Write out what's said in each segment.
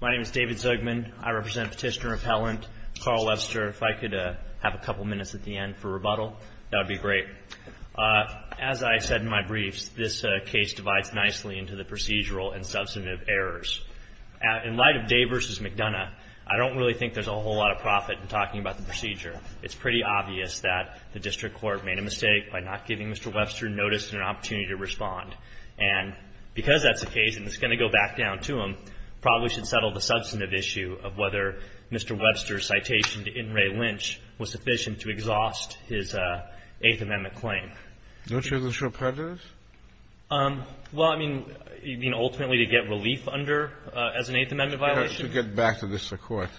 My name is David Zugman. I represent Petitioner Repellent. Carl Webster, if I could have a couple minutes at the end for rebuttal, that would be great. As I said in my briefs, this case divides nicely into the procedural and substantive errors. In light of Day v. McDonough, I don't really think there's a whole lot of profit in talking about the procedure. It's pretty obvious that the district court made a mistake by not giving Mr. Webster notice and an opportunity to respond. And because that's the case, and it's going to go back down to him, probably should settle the substantive issue of whether Mr. Webster's citation to In re Lynch was sufficient to exhaust his Eighth Amendment claim. Do you think there's a short part to this? Well, I mean, you mean ultimately to get relief under as an Eighth Amendment violation? To get back to the district court.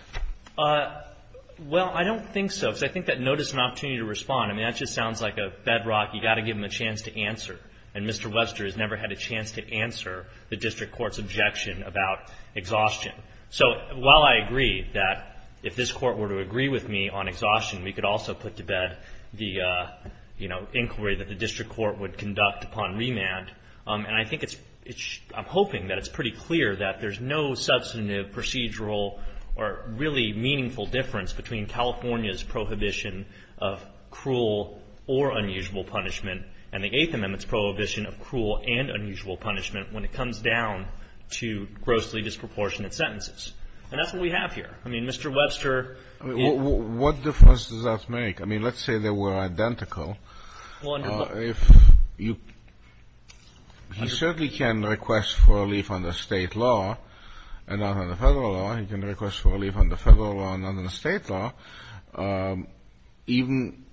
Well, I don't think so, because I think that notice and opportunity to respond, I mean, that just sounds like a bedrock. You've got to give him a chance to answer. And Mr. Webster has never had a chance to answer the district court's objection about exhaustion. So while I agree that if this court were to agree with me on exhaustion, we could also put to bed the, you know, inquiry that the district court would conduct upon remand. And I think it's — I'm hoping that it's pretty clear that there's no substantive procedural or really meaningful difference between California's prohibition of cruel or unusual punishment and the Eighth Amendment's prohibition of cruel and unusual punishment when it comes down to grossly disproportionate sentences. And that's what we have here. I mean, Mr. Webster — I mean, what difference does that make? I mean, let's say they were identical. Well, under the — If you — he certainly can request for relief under State law and not under Federal law. He can request for relief under Federal law and not under State law, even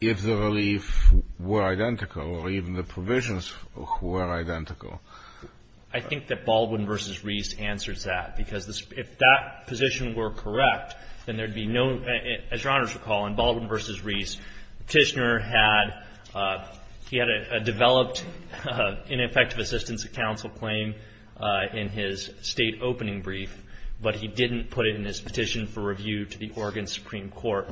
if the relief were identical or even the provisions were identical. I think that Baldwin v. Reese answers that, because if that position were correct, then there would be no — He had a developed ineffective assistance of counsel claim in his State opening brief, but he didn't put it in his petition for review to the Oregon Supreme Court.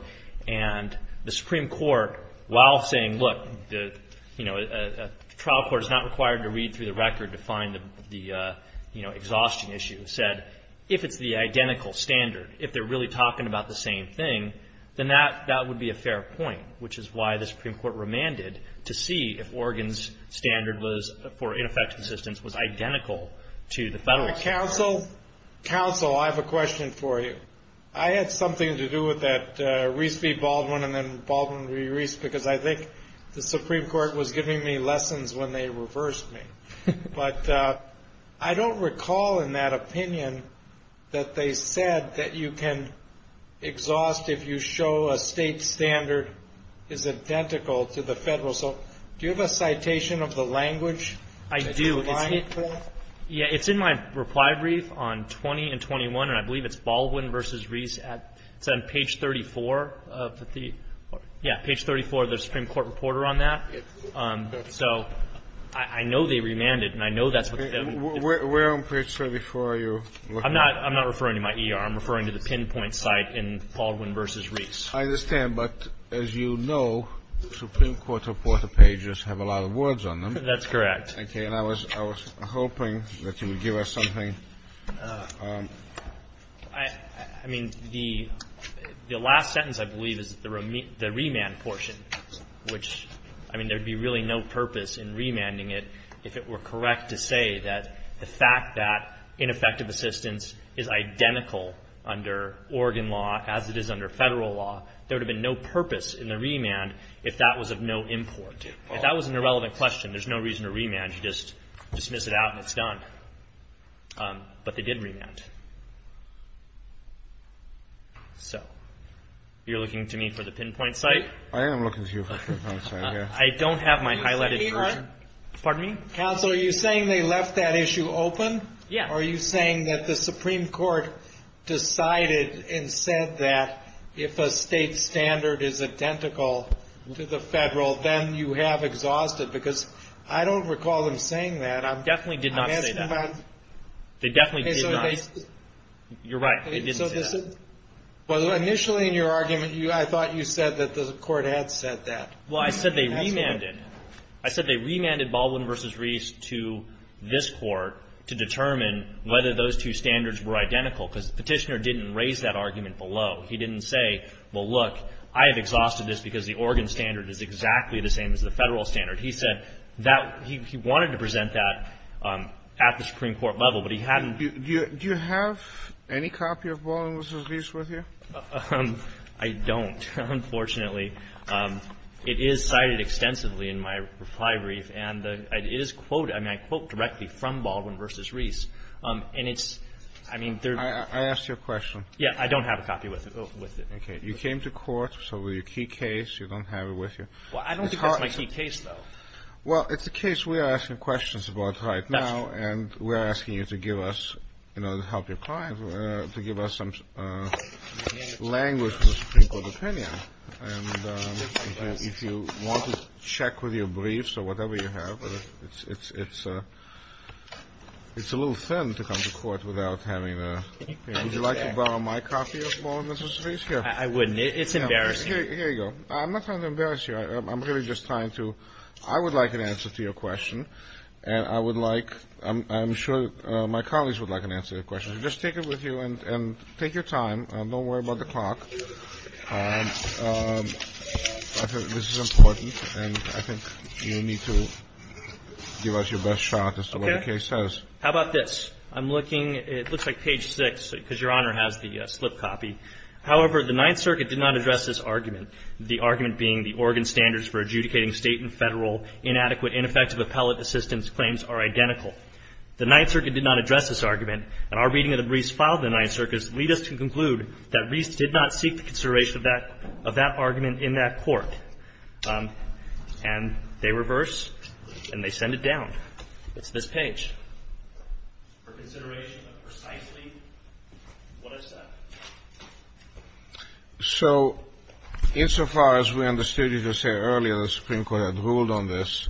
And the Supreme Court, while saying, look, you know, a trial court is not required to read through the record to find the, you know, exhaustion issue, said, if it's the identical standard, if they're really talking about the same thing, then that would be a fair point, which is why the Supreme Court remanded to see if Oregon's standard for ineffective assistance was identical to the Federal's. Counsel, counsel, I have a question for you. I had something to do with that Reese v. Baldwin and then Baldwin v. Reese, because I think the Supreme Court was giving me lessons when they reversed me. But I don't recall in that opinion that they said that you can exhaust if you show a State standard is identical to the Federal. So do you have a citation of the language? I do. It's in my reply brief on 20 and 21, and I believe it's Baldwin v. Reese. It's on page 34 of the — yeah, page 34 of the Supreme Court reporter on that. So I know they remanded, and I know that's what — Where on page 34 are you looking at? I'm not referring to my ER. I'm referring to the pinpoint site in Baldwin v. Reese. I understand. But as you know, Supreme Court reporter pages have a lot of words on them. That's correct. Okay. And I was hoping that you would give us something. I mean, the last sentence, I believe, is the remand portion, which — I mean, there would be really no purpose in remanding it if it were correct to say that the fact that ineffective assistance is identical under Oregon law as it is under Federal law, there would have been no purpose in the remand if that was of no import. If that was an irrelevant question, there's no reason to remand. You just dismiss it out, and it's done. But they did remand. So you're looking to me for the pinpoint site? I am looking to you for the pinpoint site, yeah. I don't have my highlighted version. Pardon me? Counsel, are you saying they left that issue open? Yeah. Or are you saying that the Supreme Court decided and said that if a state standard is identical to the Federal, then you have exhausted — because I don't recall them saying that. They definitely did not say that. I'm asking about — They definitely did not. You're right. They didn't say that. Initially in your argument, I thought you said that the Court had said that. Well, I said they remanded. I said they remanded Baldwin v. Reese to this Court to determine whether those two standards were identical, because the petitioner didn't raise that argument below. He didn't say, well, look, I have exhausted this because the Oregon standard is exactly the same as the Federal standard. He said that — he wanted to present that at the Supreme Court level, but he hadn't — Do you have any copy of Baldwin v. Reese with you? I don't, unfortunately. It is cited extensively in my reply brief, and it is quoted — I mean, I quote directly from Baldwin v. Reese. And it's — I mean, there — I asked you a question. Yeah. I don't have a copy with it. Okay. You came to court, so with your key case, you don't have it with you. Well, I don't think that's my key case, though. Well, it's a case we are asking questions about right now, and we are asking you to give us — you know, to help your client, to give us some language from the Supreme Court opinion. And if you want to check with your briefs or whatever you have, it's a little thin to come to court without having a — Would you like to borrow my copy of Baldwin v. Reese? I wouldn't. It's embarrassing. Here you go. I'm not trying to embarrass you. I'm really just trying to — I would like an answer to your question, and I would like — I'm sure my colleagues would like an answer to your question. Just take it with you and take your time. Don't worry about the clock. I think this is important, and I think you need to give us your best shot as to what the case says. Okay. How about this? I'm looking — it looks like page 6, because Your Honor has the slip copy. However, the Ninth Circuit did not address this argument, the argument being the organ standards for adjudicating state and federal inadequate ineffective appellate assistance claims are identical. The Ninth Circuit did not address this argument, and our reading of the briefs filed in the Ninth Circuit leads us to conclude that Reese did not seek the consideration of that argument in that court. And they reverse, and they send it down. It's this page. So insofar as we understood you to say earlier the Supreme Court had ruled on this,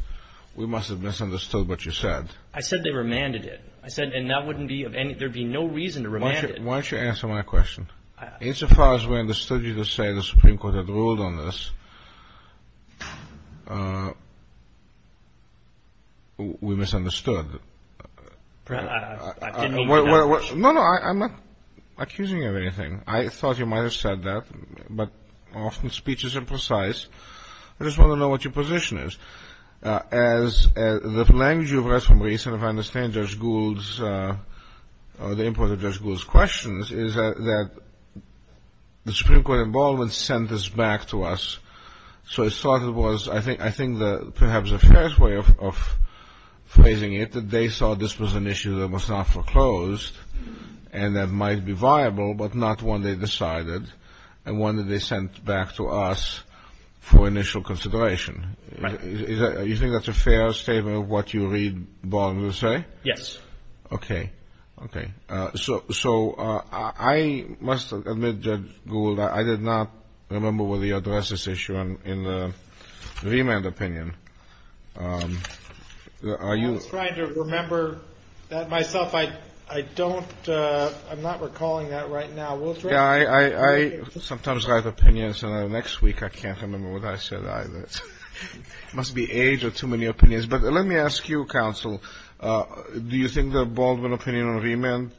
we must have misunderstood what you said. I said they remanded it. I said — and that wouldn't be of any — there would be no reason to remand it. Why don't you answer my question? Insofar as we understood you to say the Supreme Court had ruled on this, we misunderstood. I didn't mean — No, no. I'm not accusing you of anything. I thought you might have said that, but often speech is imprecise. I just want to know what your position is. The language you've read from Reese, and if I understand Judge Gould's — the input of Judge Gould's questions, is that the Supreme Court involvement sent this back to us. So I thought it was — I think perhaps a fair way of phrasing it, that they saw this was an issue that was not foreclosed and that might be viable, but not one they decided and one that they sent back to us for initial consideration. Right. Do you think that's a fair statement of what you read Barnes will say? Yes. Okay. Okay. So I must admit, Judge Gould, I did not remember whether you addressed this issue in the remand opinion. I was trying to remember that myself. I don't — I'm not recalling that right now. I sometimes write opinions, and the next week I can't remember what I said either. It must be age or too many opinions. But let me ask you, counsel, do you think the Baldwin opinion on remand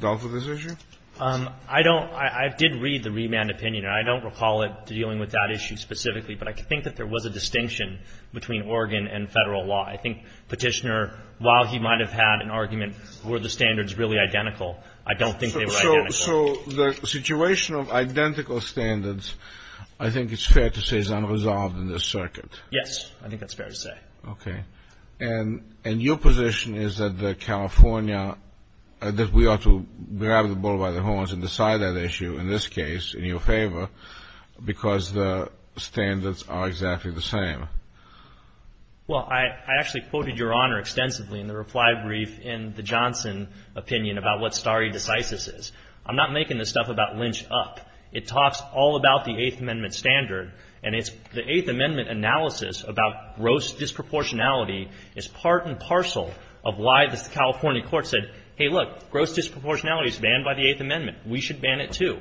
dealt with this issue? I don't — I did read the remand opinion, and I don't recall it dealing with that issue specifically, but I think that there was a distinction between Oregon and Federal law. I think Petitioner, while he might have had an argument were the standards really identical, I don't think they were identical. So the situation of identical standards I think it's fair to say is unresolved in this circuit. Yes, I think that's fair to say. Okay. And your position is that the California — that we ought to grab the bull by the horns and decide that issue in this case in your favor because the standards are exactly the same? Well, I actually quoted Your Honor extensively in the reply brief in the Johnson opinion about what stare decisis is. I'm not making this stuff about Lynch up. It talks all about the Eighth Amendment standard, and it's the Eighth Amendment analysis about gross disproportionality is part and parcel of why the California court said, hey, look, gross disproportionality is banned by the Eighth Amendment. We should ban it, too.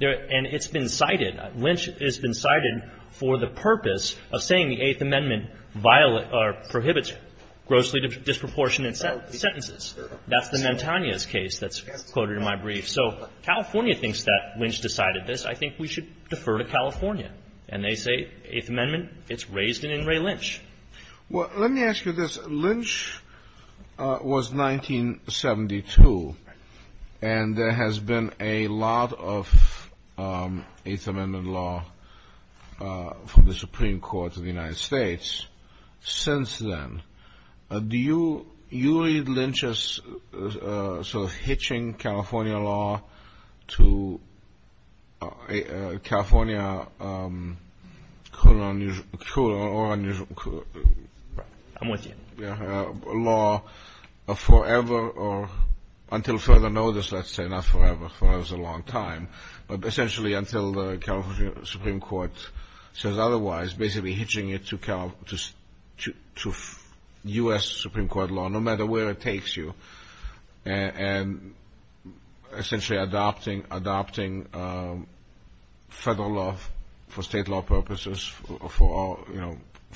And it's been cited. Lynch has been cited for the purpose of saying the Eighth Amendment violates or prohibits grossly disproportionate sentences. That's the Mantagna's case that's quoted in my brief. So California thinks that Lynch decided this. I think we should defer to California. And they say Eighth Amendment, it's raised in In re Lynch. Well, let me ask you this. Lynch was 1972, and there has been a lot of Eighth Amendment law from the Supreme Court of the United States since then. Do you read Lynch's sort of hitching California law to California law forever or until further notice, let's say? Not forever. But essentially until the California Supreme Court says otherwise, basically hitching it to U.S. Supreme Court law, no matter where it takes you, and essentially adopting federal law for state law purposes for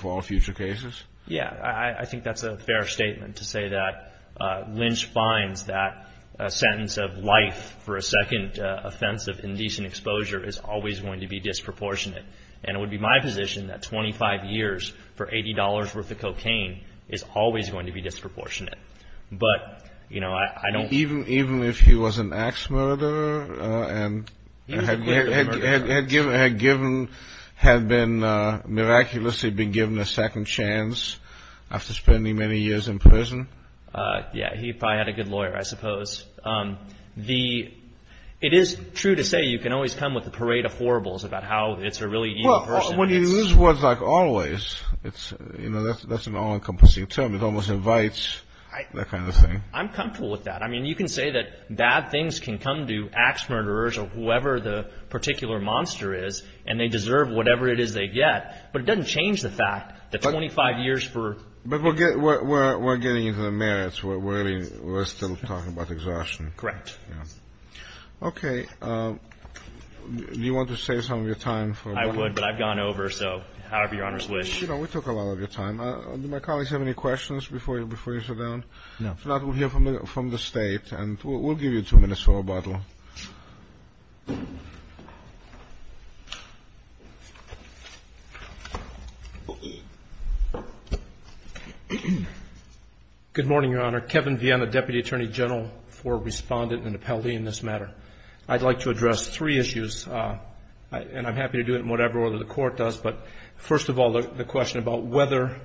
all future cases? Yeah. I think that's a fair statement to say that Lynch finds that a sentence of life for a second offense of indecent exposure is always going to be disproportionate. And it would be my position that 25 years for $80 worth of cocaine is always going to be disproportionate. But, you know, I don't. Even if he was an axe murderer and had been miraculously been given a second chance after spending many years in prison? Yeah, he probably had a good lawyer, I suppose. It is true to say you can always come with a parade of horribles about how it's a really evil person. Well, when you use words like always, you know, that's an all-encompassing term. It almost invites that kind of thing. I'm comfortable with that. I mean, you can say that bad things can come to axe murderers or whoever the particular monster is, and they deserve whatever it is they get, but it doesn't change the fact that 25 years for ---- But we're getting into the merits. We're still talking about exhaustion. Correct. Okay. Do you want to save some of your time for ---- I would, but I've gone over, so however Your Honor's wish. You know, we took a lot of your time. Do my colleagues have any questions before you sit down? No. If not, we'll hear from the State, and we'll give you two minutes for rebuttal. Good morning, Your Honor. Kevin Vienne, the Deputy Attorney General for Respondent and Appellee in this matter. I'd like to address three issues, and I'm happy to do it in whatever order the Court does, but first of all, the question about whether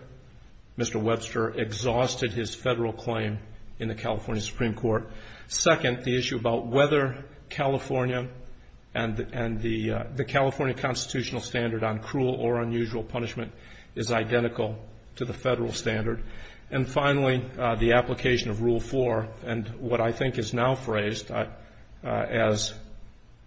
Mr. Webster exhausted his federal claim in the California Supreme Court. Second, the issue about whether California and the California constitutional standard on cruel or unusual punishment is identical to the federal standard. And finally, the application of Rule 4, and what I think is now phrased as,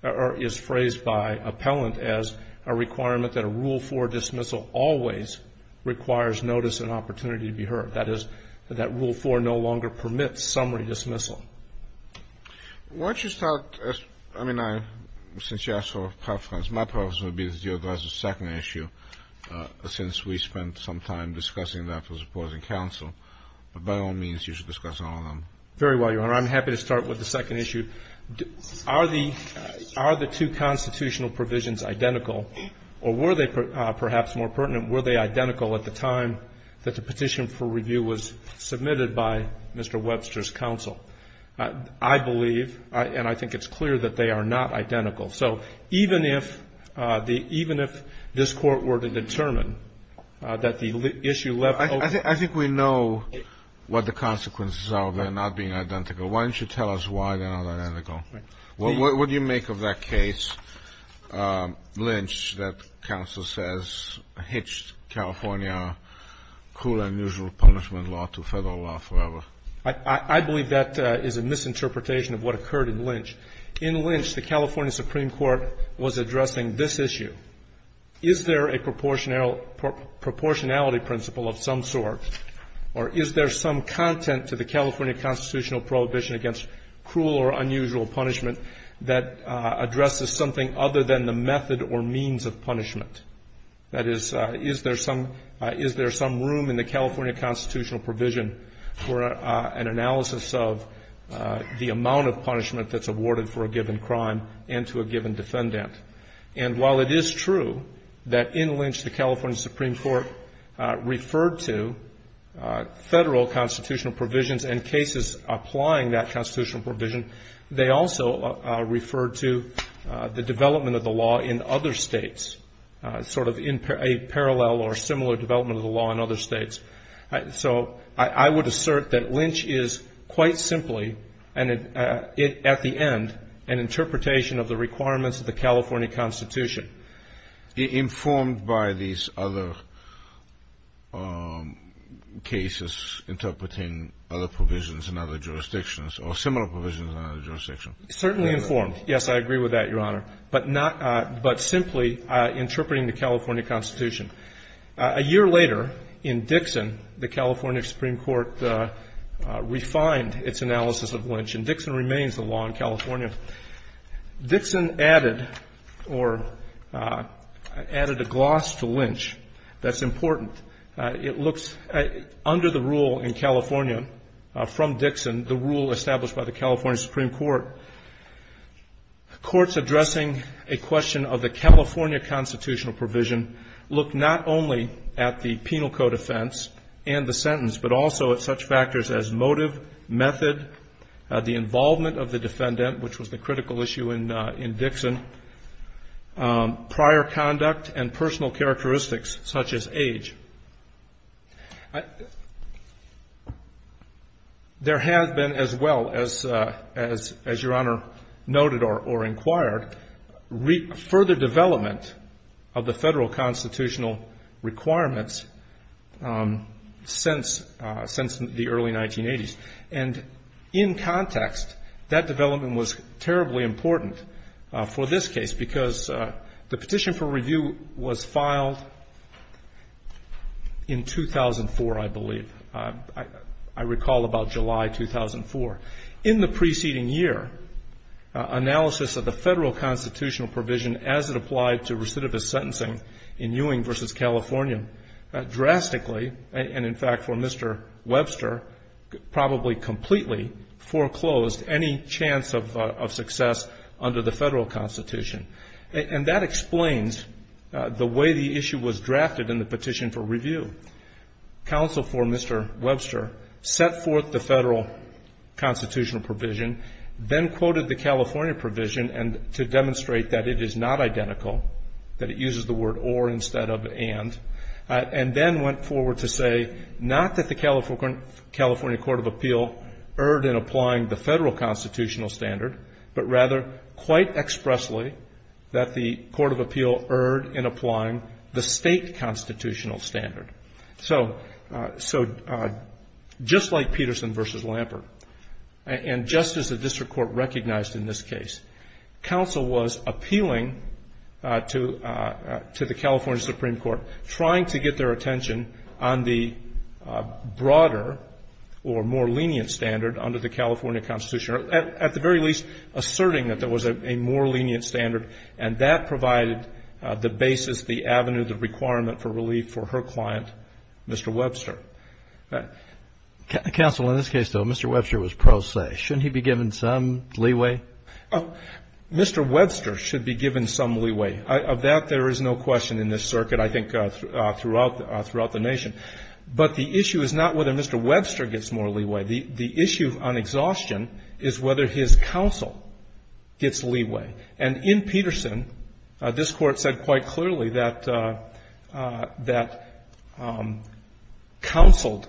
or is phrased by appellant as a requirement that a Rule 4 dismissal always requires notice and opportunity to be heard, that is, that Rule 4 no longer permits summary dismissal. Why don't you start, I mean, since you asked for preference, my preference would be to deal with the second issue since we spent some time discussing that with the opposing counsel, but by all means, you should discuss all of them. Very well, Your Honor. I'm happy to start with the second issue. Are the two constitutional provisions identical, or were they perhaps more pertinent? Were they identical at the time that the petition for review was submitted by Mr. Webster's counsel? I believe, and I think it's clear, that they are not identical. So even if the – even if this Court were to determine that the issue left over – I think we know what the consequences are of that not being identical. Why don't you tell us why they're not identical? What do you make of that case, Lynch, that counsel says hitched California cruel and unusual punishment law to Federal law forever? I believe that is a misinterpretation of what occurred in Lynch. In Lynch, the California Supreme Court was addressing this issue. Is there a proportionality principle of some sort, or is there some content to the California constitutional prohibition against cruel or unusual punishment that addresses something other than the method or means of punishment? That is, is there some room in the California constitutional provision for an analysis of the amount of punishment that's awarded for a given crime and to a given defendant? And while it is true that in Lynch the California Supreme Court referred to Federal constitutional provisions and cases applying that constitutional provision, they also referred to the development of the law in other states, sort of a parallel or similar development of the law in other states. So I would assert that Lynch is quite simply, at the end, an interpretation of the requirements of the California Constitution. Kennedy, informed by these other cases interpreting other provisions in other jurisdictions or similar provisions in other jurisdictions? Certainly informed. Yes, I agree with that, Your Honor. But not — but simply interpreting the California Constitution. A year later, in Dixon, the California Supreme Court refined its analysis of Lynch, and Dixon remains the law in California. Dixon added or added a gloss to Lynch that's important. It looks — under the rule in California from Dixon, the rule established by the California Supreme Court, courts addressing a question of the California constitutional provision look not only at the penal code offense and the sentence, but also at such factors as motive, method, the involvement of the defendant, which was the critical issue in Dixon, prior conduct, and personal characteristics, such as age. There has been, as well, as Your Honor noted or inquired, further development of the federal constitutional requirements since the early 1980s. And in context, that development was terribly important for this case, because the petition for review was filed in 2004, I believe. I recall about July 2004. In the preceding year, analysis of the federal constitutional provision as it applied to recidivist sentencing in Ewing v. California drastically, and in fact for Mr. Webster, probably completely foreclosed any chance of success under the federal constitution. And that explains the way the issue was drafted in the petition for review. Counsel for Mr. Webster set forth the federal constitutional provision, then quoted the California provision to demonstrate that it is not identical, that it uses the word or instead of and, and then went forward to say, not that the California Court of Appeal erred in applying the federal constitutional standard, but rather quite expressly that the Court of Appeal erred in applying the state constitutional standard. So just like Peterson v. Lampert, and just as the district court recognized in this case, counsel was appealing to the California Supreme Court, trying to get their attention on the broader or more lenient standard under the California Constitution, or at the very least asserting that there was a more lenient standard, and that provided the basis, the avenue, the requirement for relief for her client, Mr. Webster. Counsel, in this case, though, Mr. Webster was pro se. Shouldn't he be given some leeway? Mr. Webster should be given some leeway. Of that, there is no question in this circuit, I think, throughout the nation. But the issue is not whether Mr. Webster gets more leeway. The issue on exhaustion is whether his counsel gets leeway. And in Peterson, this Court said quite clearly that counseled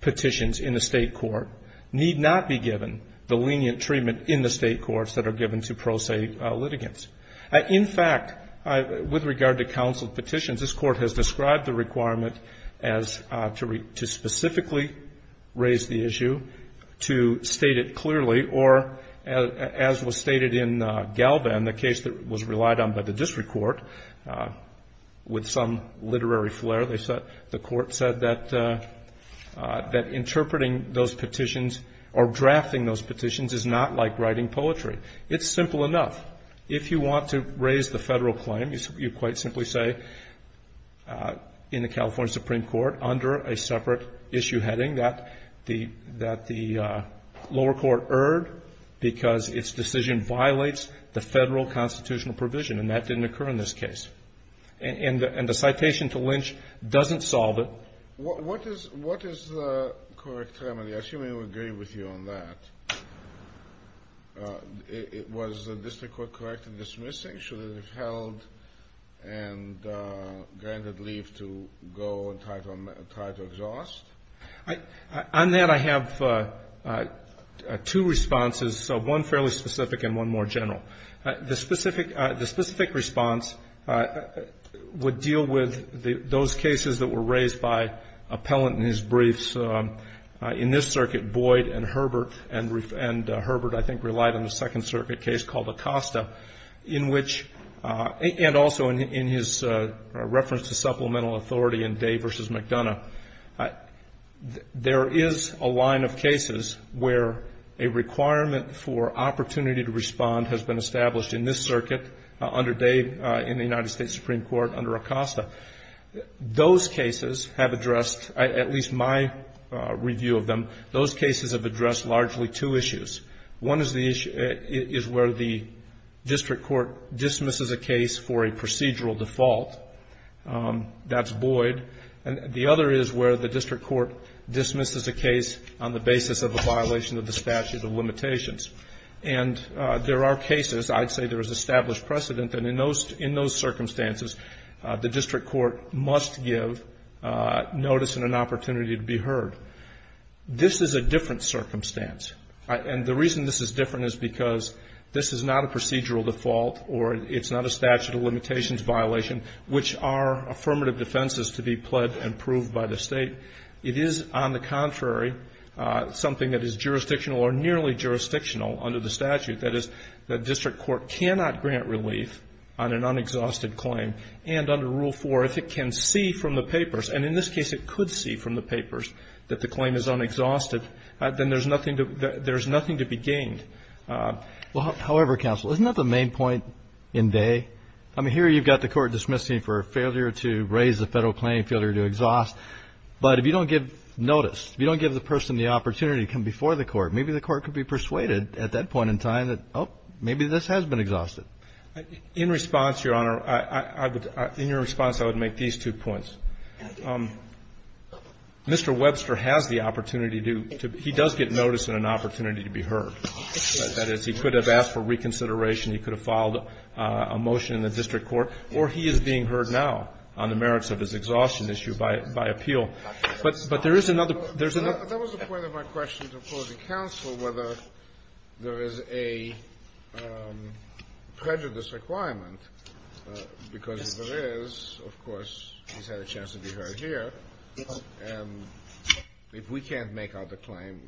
petitions in a state court need not be given the lenient treatment in the state courts that are given to pro se litigants. In fact, with regard to counseled petitions, this Court has described the requirement as to specifically raise the issue, to state it clearly, or as was stated in Galvan, the case that was relied on by the District Court, with some literary flair, the Court said that interpreting those petitions or drafting those petitions is not like writing poetry. It's simple enough. If you want to raise the federal claim, you quite simply say in the California Supreme Court, under a separate issue heading, that the lower court erred because its decision violates the federal constitutional provision, and that didn't occur in this case. And the citation to Lynch doesn't solve it. What is the correct remedy? I assume I would agree with you on that. Was the District Court correct in dismissing? And granted leave to go and try to exhaust? On that, I have two responses, one fairly specific and one more general. The specific response would deal with those cases that were raised by Appellant in his briefs. In this circuit, Boyd and Herbert, and Herbert, I think, relied on a Second Circuit case called Acosta, in which, and also in his reference to supplemental authority in Day v. McDonough, there is a line of cases where a requirement for opportunity to respond has been established in this circuit, under Day, in the United States Supreme Court, under Acosta. Those cases have addressed, at least my review of them, those cases have addressed largely two issues. One is the issue, is where the District Court dismisses a case for a procedural default. That's Boyd. And the other is where the District Court dismisses a case on the basis of a violation of the statute of limitations. And there are cases, I'd say there is established precedent that in those circumstances, the District Court must give notice and an opportunity to be heard. This is a different circumstance. And the reason this is different is because this is not a procedural default or it's not a statute of limitations violation, which are affirmative defenses to be pled and proved by the State. It is, on the contrary, something that is jurisdictional or nearly jurisdictional under the statute. That is, the District Court cannot grant relief on an unexhausted claim. And under Rule 4, if it can see from the papers, and in this case it could see from the papers that the claim is there's nothing to be gained. Well, however, counsel, isn't that the main point in day? I mean, here you've got the court dismissing for failure to raise the federal claim, failure to exhaust. But if you don't give notice, if you don't give the person the opportunity to come before the court, maybe the court could be persuaded at that point in time that, oh, maybe this has been exhausted. In response, Your Honor, in your response, I would make these two points. Mr. Webster has the opportunity to do to he does get notice and an opportunity to be heard. That is, he could have asked for reconsideration. He could have filed a motion in the District Court. Or he is being heard now on the merits of his exhaustion issue by appeal. But there is another, there's another. That was the point of my question to oppose the counsel, whether there is a prejudice requirement. Because if there is, of course, he's had a chance to be heard here. And if we can't make out the claim,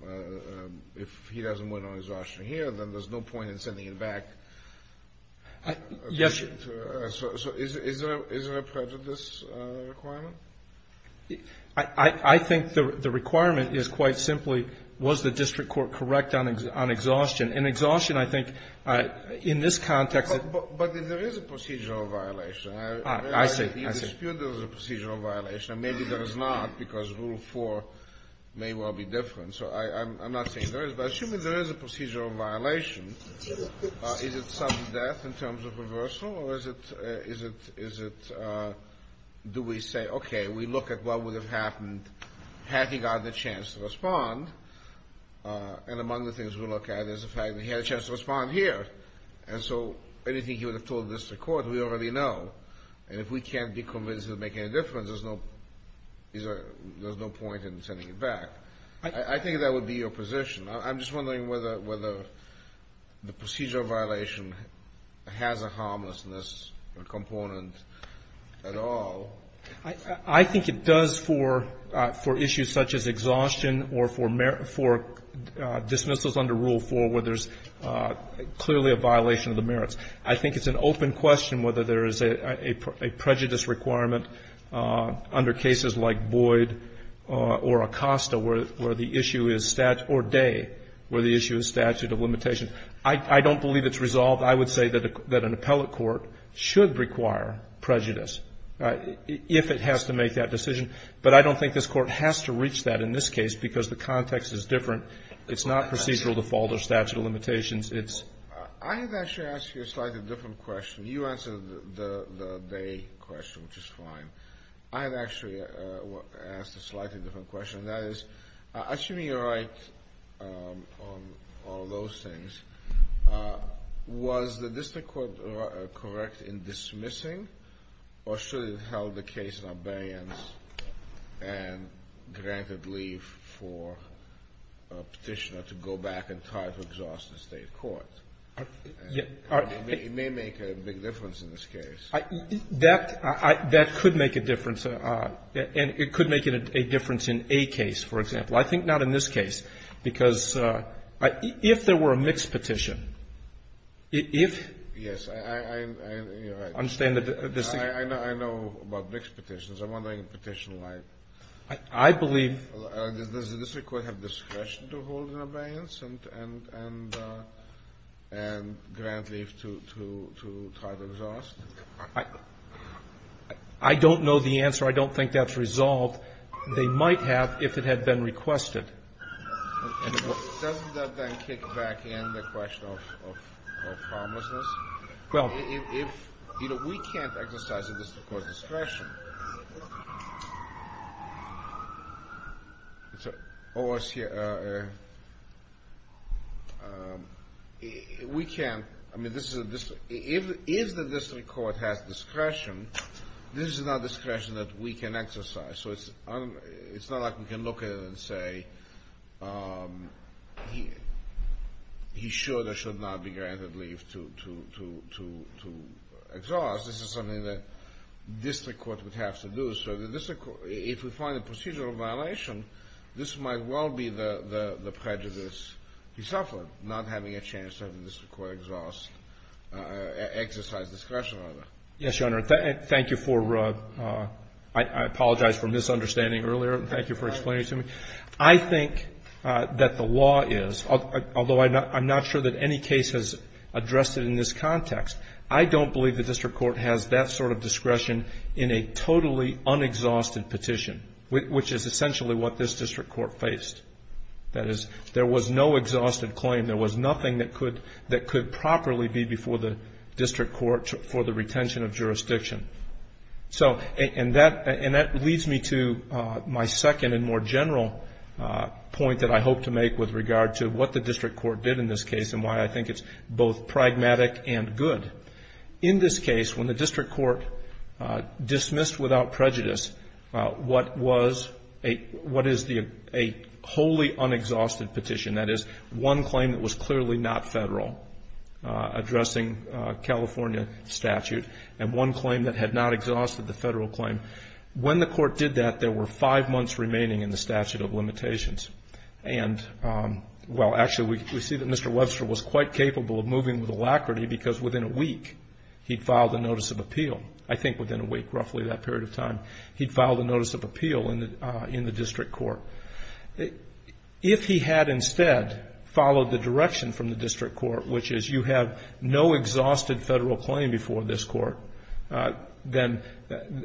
if he doesn't win on exhaustion here, then there's no point in sending him back. Yes. So is there a prejudice requirement? I think the requirement is quite simply, was the District Court correct on exhaustion? And exhaustion, I think, in this context. But there is a procedural violation. I see. You dispute there is a procedural violation. And maybe there is not, because Rule 4 may well be different. So I'm not saying there is. But assuming there is a procedural violation, is it sudden death in terms of reversal? Or is it, do we say, okay, we look at what would have happened had he got the chance to respond? And among the things we look at is the fact that he had a chance to respond here. And so anything he would have told the District Court, we already know. And if we can't be convinced it would make any difference, there's no point in sending him back. I think that would be your position. I'm just wondering whether the procedural violation has a harmlessness component at all. I think it does for issues such as exhaustion or for dismissals under Rule 4 where there's clearly a violation of the merits. I think it's an open question whether there is a prejudice requirement under cases like Boyd or Acosta where the issue is statute or Day where the issue is statute of limitations. I don't believe it's resolved. I would say that an appellate court should require prejudice if it has to make that decision. But I don't think this Court has to reach that in this case because the context is different. It's not procedural default or statute of limitations. I have actually asked you a slightly different question. You answered the Day question, which is fine. I have actually asked a slightly different question. That is, assuming you're right on all those things, was the District Court correct in dismissing or should it have held the case in abeyance and granted leave for a Petitioner to go back and try to exhaust the State court? It may make a big difference in this case. That could make a difference. And it could make a difference in a case, for example. I think not in this case because if there were a mixed petition, if you understand the distinction. I know about mixed petitions. I'm wondering if Petitioner might. I believe. Does the District Court have discretion to hold in abeyance and grant leave to try to exhaust? I don't know the answer. I don't think that's resolved. They might have if it had been requested. Doesn't that then kick back in the question of homelessness? If we can't exercise the District Court's discretion, we can't. I mean, if the District Court has discretion, this is not discretion that we can exercise. So it's not like we can look at it and say he should or should not be granted leave to exhaust. This is something that District Court would have to do. So if we find a procedural violation, this might well be the prejudice he suffered, not having a chance to have the District Court exhaust, exercise discretion on it. Yes, Your Honor. Thank you for, I apologize for misunderstanding earlier. Thank you for explaining to me. I think that the law is, although I'm not sure that any case has addressed it in this context, I don't believe the District Court has that sort of discretion in a totally unexhausted petition, which is essentially what this District Court faced. That is, there was no exhausted claim. There was nothing that could properly be before the District Court for the retention of jurisdiction. And that leads me to my second and more general point that I hope to make with regard to what the District Court did in this case and why I think it's both pragmatic and good. In this case, when the District Court dismissed without prejudice what is a wholly unexhausted petition, that is, one claim that was clearly not Federal addressing California statute and one claim that had not exhausted the Federal claim, when the Court did that there were five months remaining in the statute of limitations. And, well, actually we see that Mr. Webster was quite capable of moving with alacrity because within a week he'd filed a notice of appeal. I think within a week, roughly that period of time, he'd filed a notice of appeal in the District Court. If he had instead followed the direction from the District Court, which is you have no exhausted Federal claim before this Court, then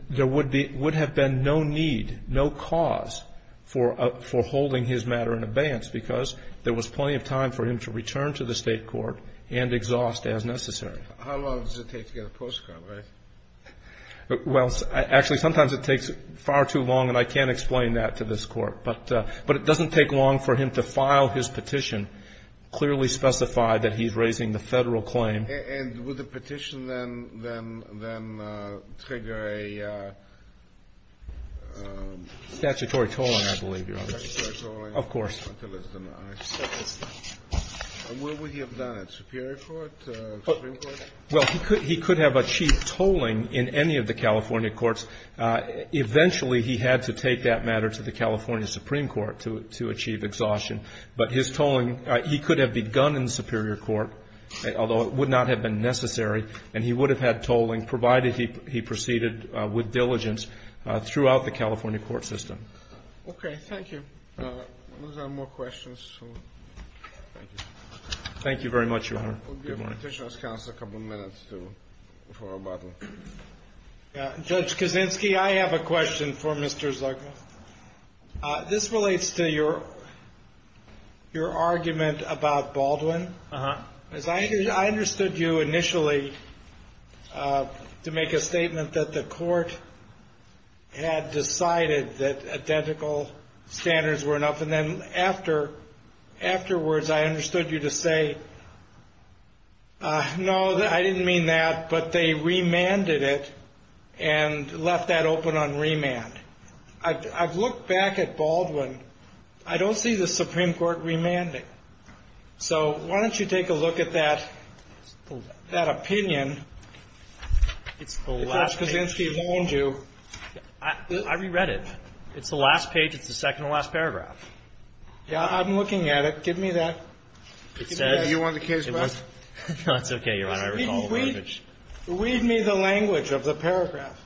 there would have been no need, no cause for holding his matter in abeyance, because there was plenty of time for him to return to the State court and exhaust as necessary. Kennedy. How long does it take to get a postcard, right? Well, actually, sometimes it takes far too long, and I can't explain that to this Court. But it doesn't take long for him to file his petition, clearly specify that he's raising the Federal claim. And would the petition then trigger a statutory tolling, I believe, Your Honor? Statutory tolling. Of course. And where would he have done it, Superior Court, Supreme Court? Well, he could have achieved tolling in any of the California courts. Eventually, he had to take that matter to the California Supreme Court to achieve exhaustion. But his tolling, he could have begun in the Superior Court, although it would not have been necessary, and he would have had tolling provided he proceeded with diligence throughout the California court system. Okay. Thank you. Those are more questions. Thank you. Thank you very much, Your Honor. Good morning. I'll give the petitioner's counsel a couple of minutes for rebuttal. Judge Kaczynski, I have a question for Mr. Zuckman. This relates to your argument about Baldwin. Uh-huh. I understood you initially to make a statement that the Court had decided that identical standards were enough, and then afterwards I understood you to say, no, I didn't mean that, but they remanded it and left that open on remand. I've looked back at Baldwin. I don't see the Supreme Court remanding. So why don't you take a look at that opinion. It's the last page. If Judge Kaczynski warned you. I reread it. It's the last page. It's the second to last paragraph. Yeah, I'm looking at it. Give me that. You want the page back? No, it's okay, Your Honor. I recall the language. Read me the language of the paragraph.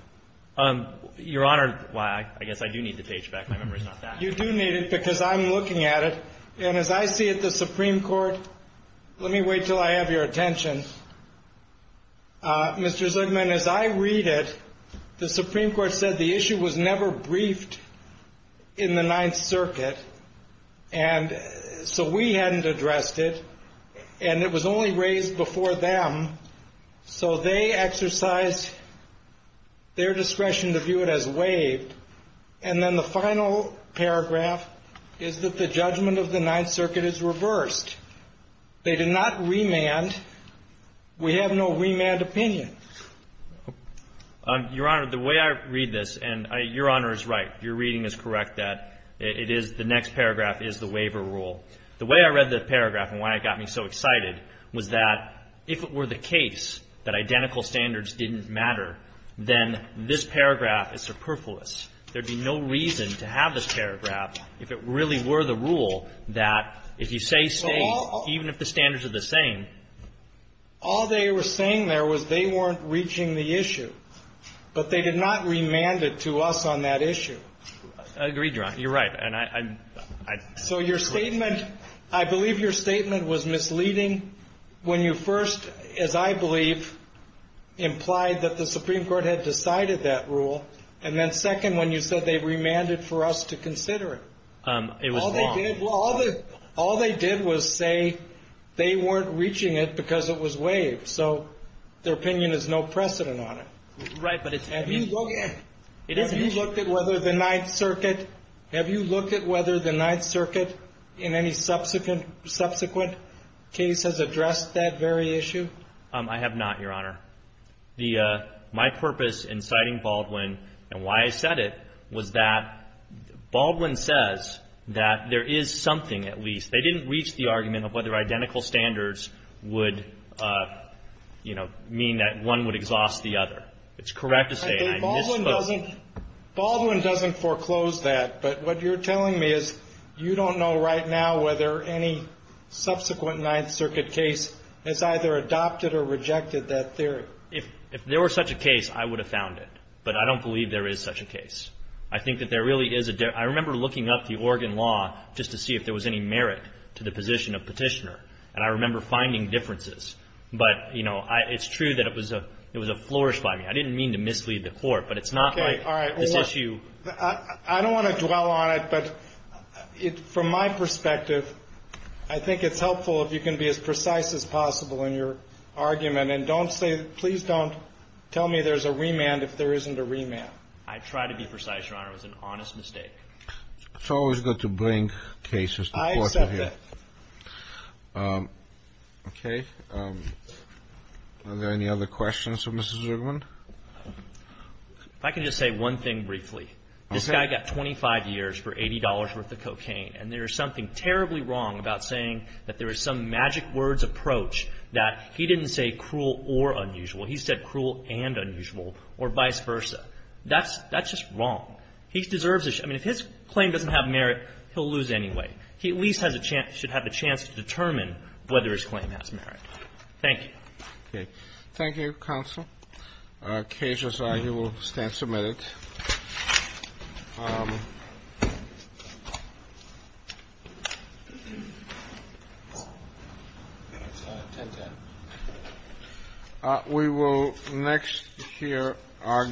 Your Honor, I guess I do need the page back. My memory is not that good. You do need it because I'm looking at it. And as I see it, the Supreme Court, let me wait until I have your attention. Mr. Zugman, as I read it, the Supreme Court said the issue was never briefed in the Ninth Circuit. And so we hadn't addressed it. And it was only raised before them. So they exercised their discretion to view it as waived. And then the final paragraph is that the judgment of the Ninth Circuit is reversed. They did not remand. We have no remand opinion. Your Honor, the way I read this, and your Honor is right, your reading is correct, that it is the next paragraph is the waiver rule. The way I read the paragraph and why it got me so excited was that if it were the case that identical standards didn't matter, then this paragraph is superfluous. There would be no reason to have this paragraph if it really were the rule that if you say state, even if the standards are the same. All they were saying there was they weren't reaching the issue. But they did not remand it to us on that issue. I agree, Your Honor. You're right. So your statement, I believe your statement was misleading when you first, as I believe, implied that the Supreme Court had decided that rule. And then second, when you said they remanded for us to consider it. It was wrong. All they did was say they weren't reaching it because it was waived. So their opinion is no precedent on it. Right, but it's. Have you looked at whether the Ninth Circuit, have you looked at whether the Ninth Circuit in any subsequent case has addressed that very issue? I have not, Your Honor. My purpose in citing Baldwin and why I said it was that Baldwin says that there is something at least. They didn't reach the argument of whether identical standards would, you know, mean that one would exhaust the other. It's correct to say. Baldwin doesn't foreclose that. But what you're telling me is you don't know right now whether any subsequent Ninth Circuit case has either adopted or rejected that theory. If there were such a case, I would have found it. But I don't believe there is such a case. I think that there really is. I remember looking up the Oregon law just to see if there was any merit to the position of petitioner. And I remember finding differences. But, you know, it's true that it was a it was a flourish by me. I didn't mean to mislead the court, but it's not like this issue. I don't want to dwell on it. But from my perspective, I think it's helpful if you can be as precise as possible in your argument. And don't say please don't tell me there's a remand if there isn't a remand. I try to be precise, Your Honor. It was an honest mistake. It's always good to bring cases to court. I accept that. Okay. Are there any other questions for Mrs. Zugman? If I can just say one thing briefly. This guy got 25 years for $80 worth of cocaine. And there is something terribly wrong about saying that there is some magic words approach that he didn't say cruel or unusual. He said cruel and unusual or vice versa. That's just wrong. He deserves this. I mean, if his claim doesn't have merit, he'll lose anyway. He at least should have a chance to determine whether his claim has merit. Thank you. Okay. Thank you, counsel. Cases are, you will stand submitted. We will next hear arguments.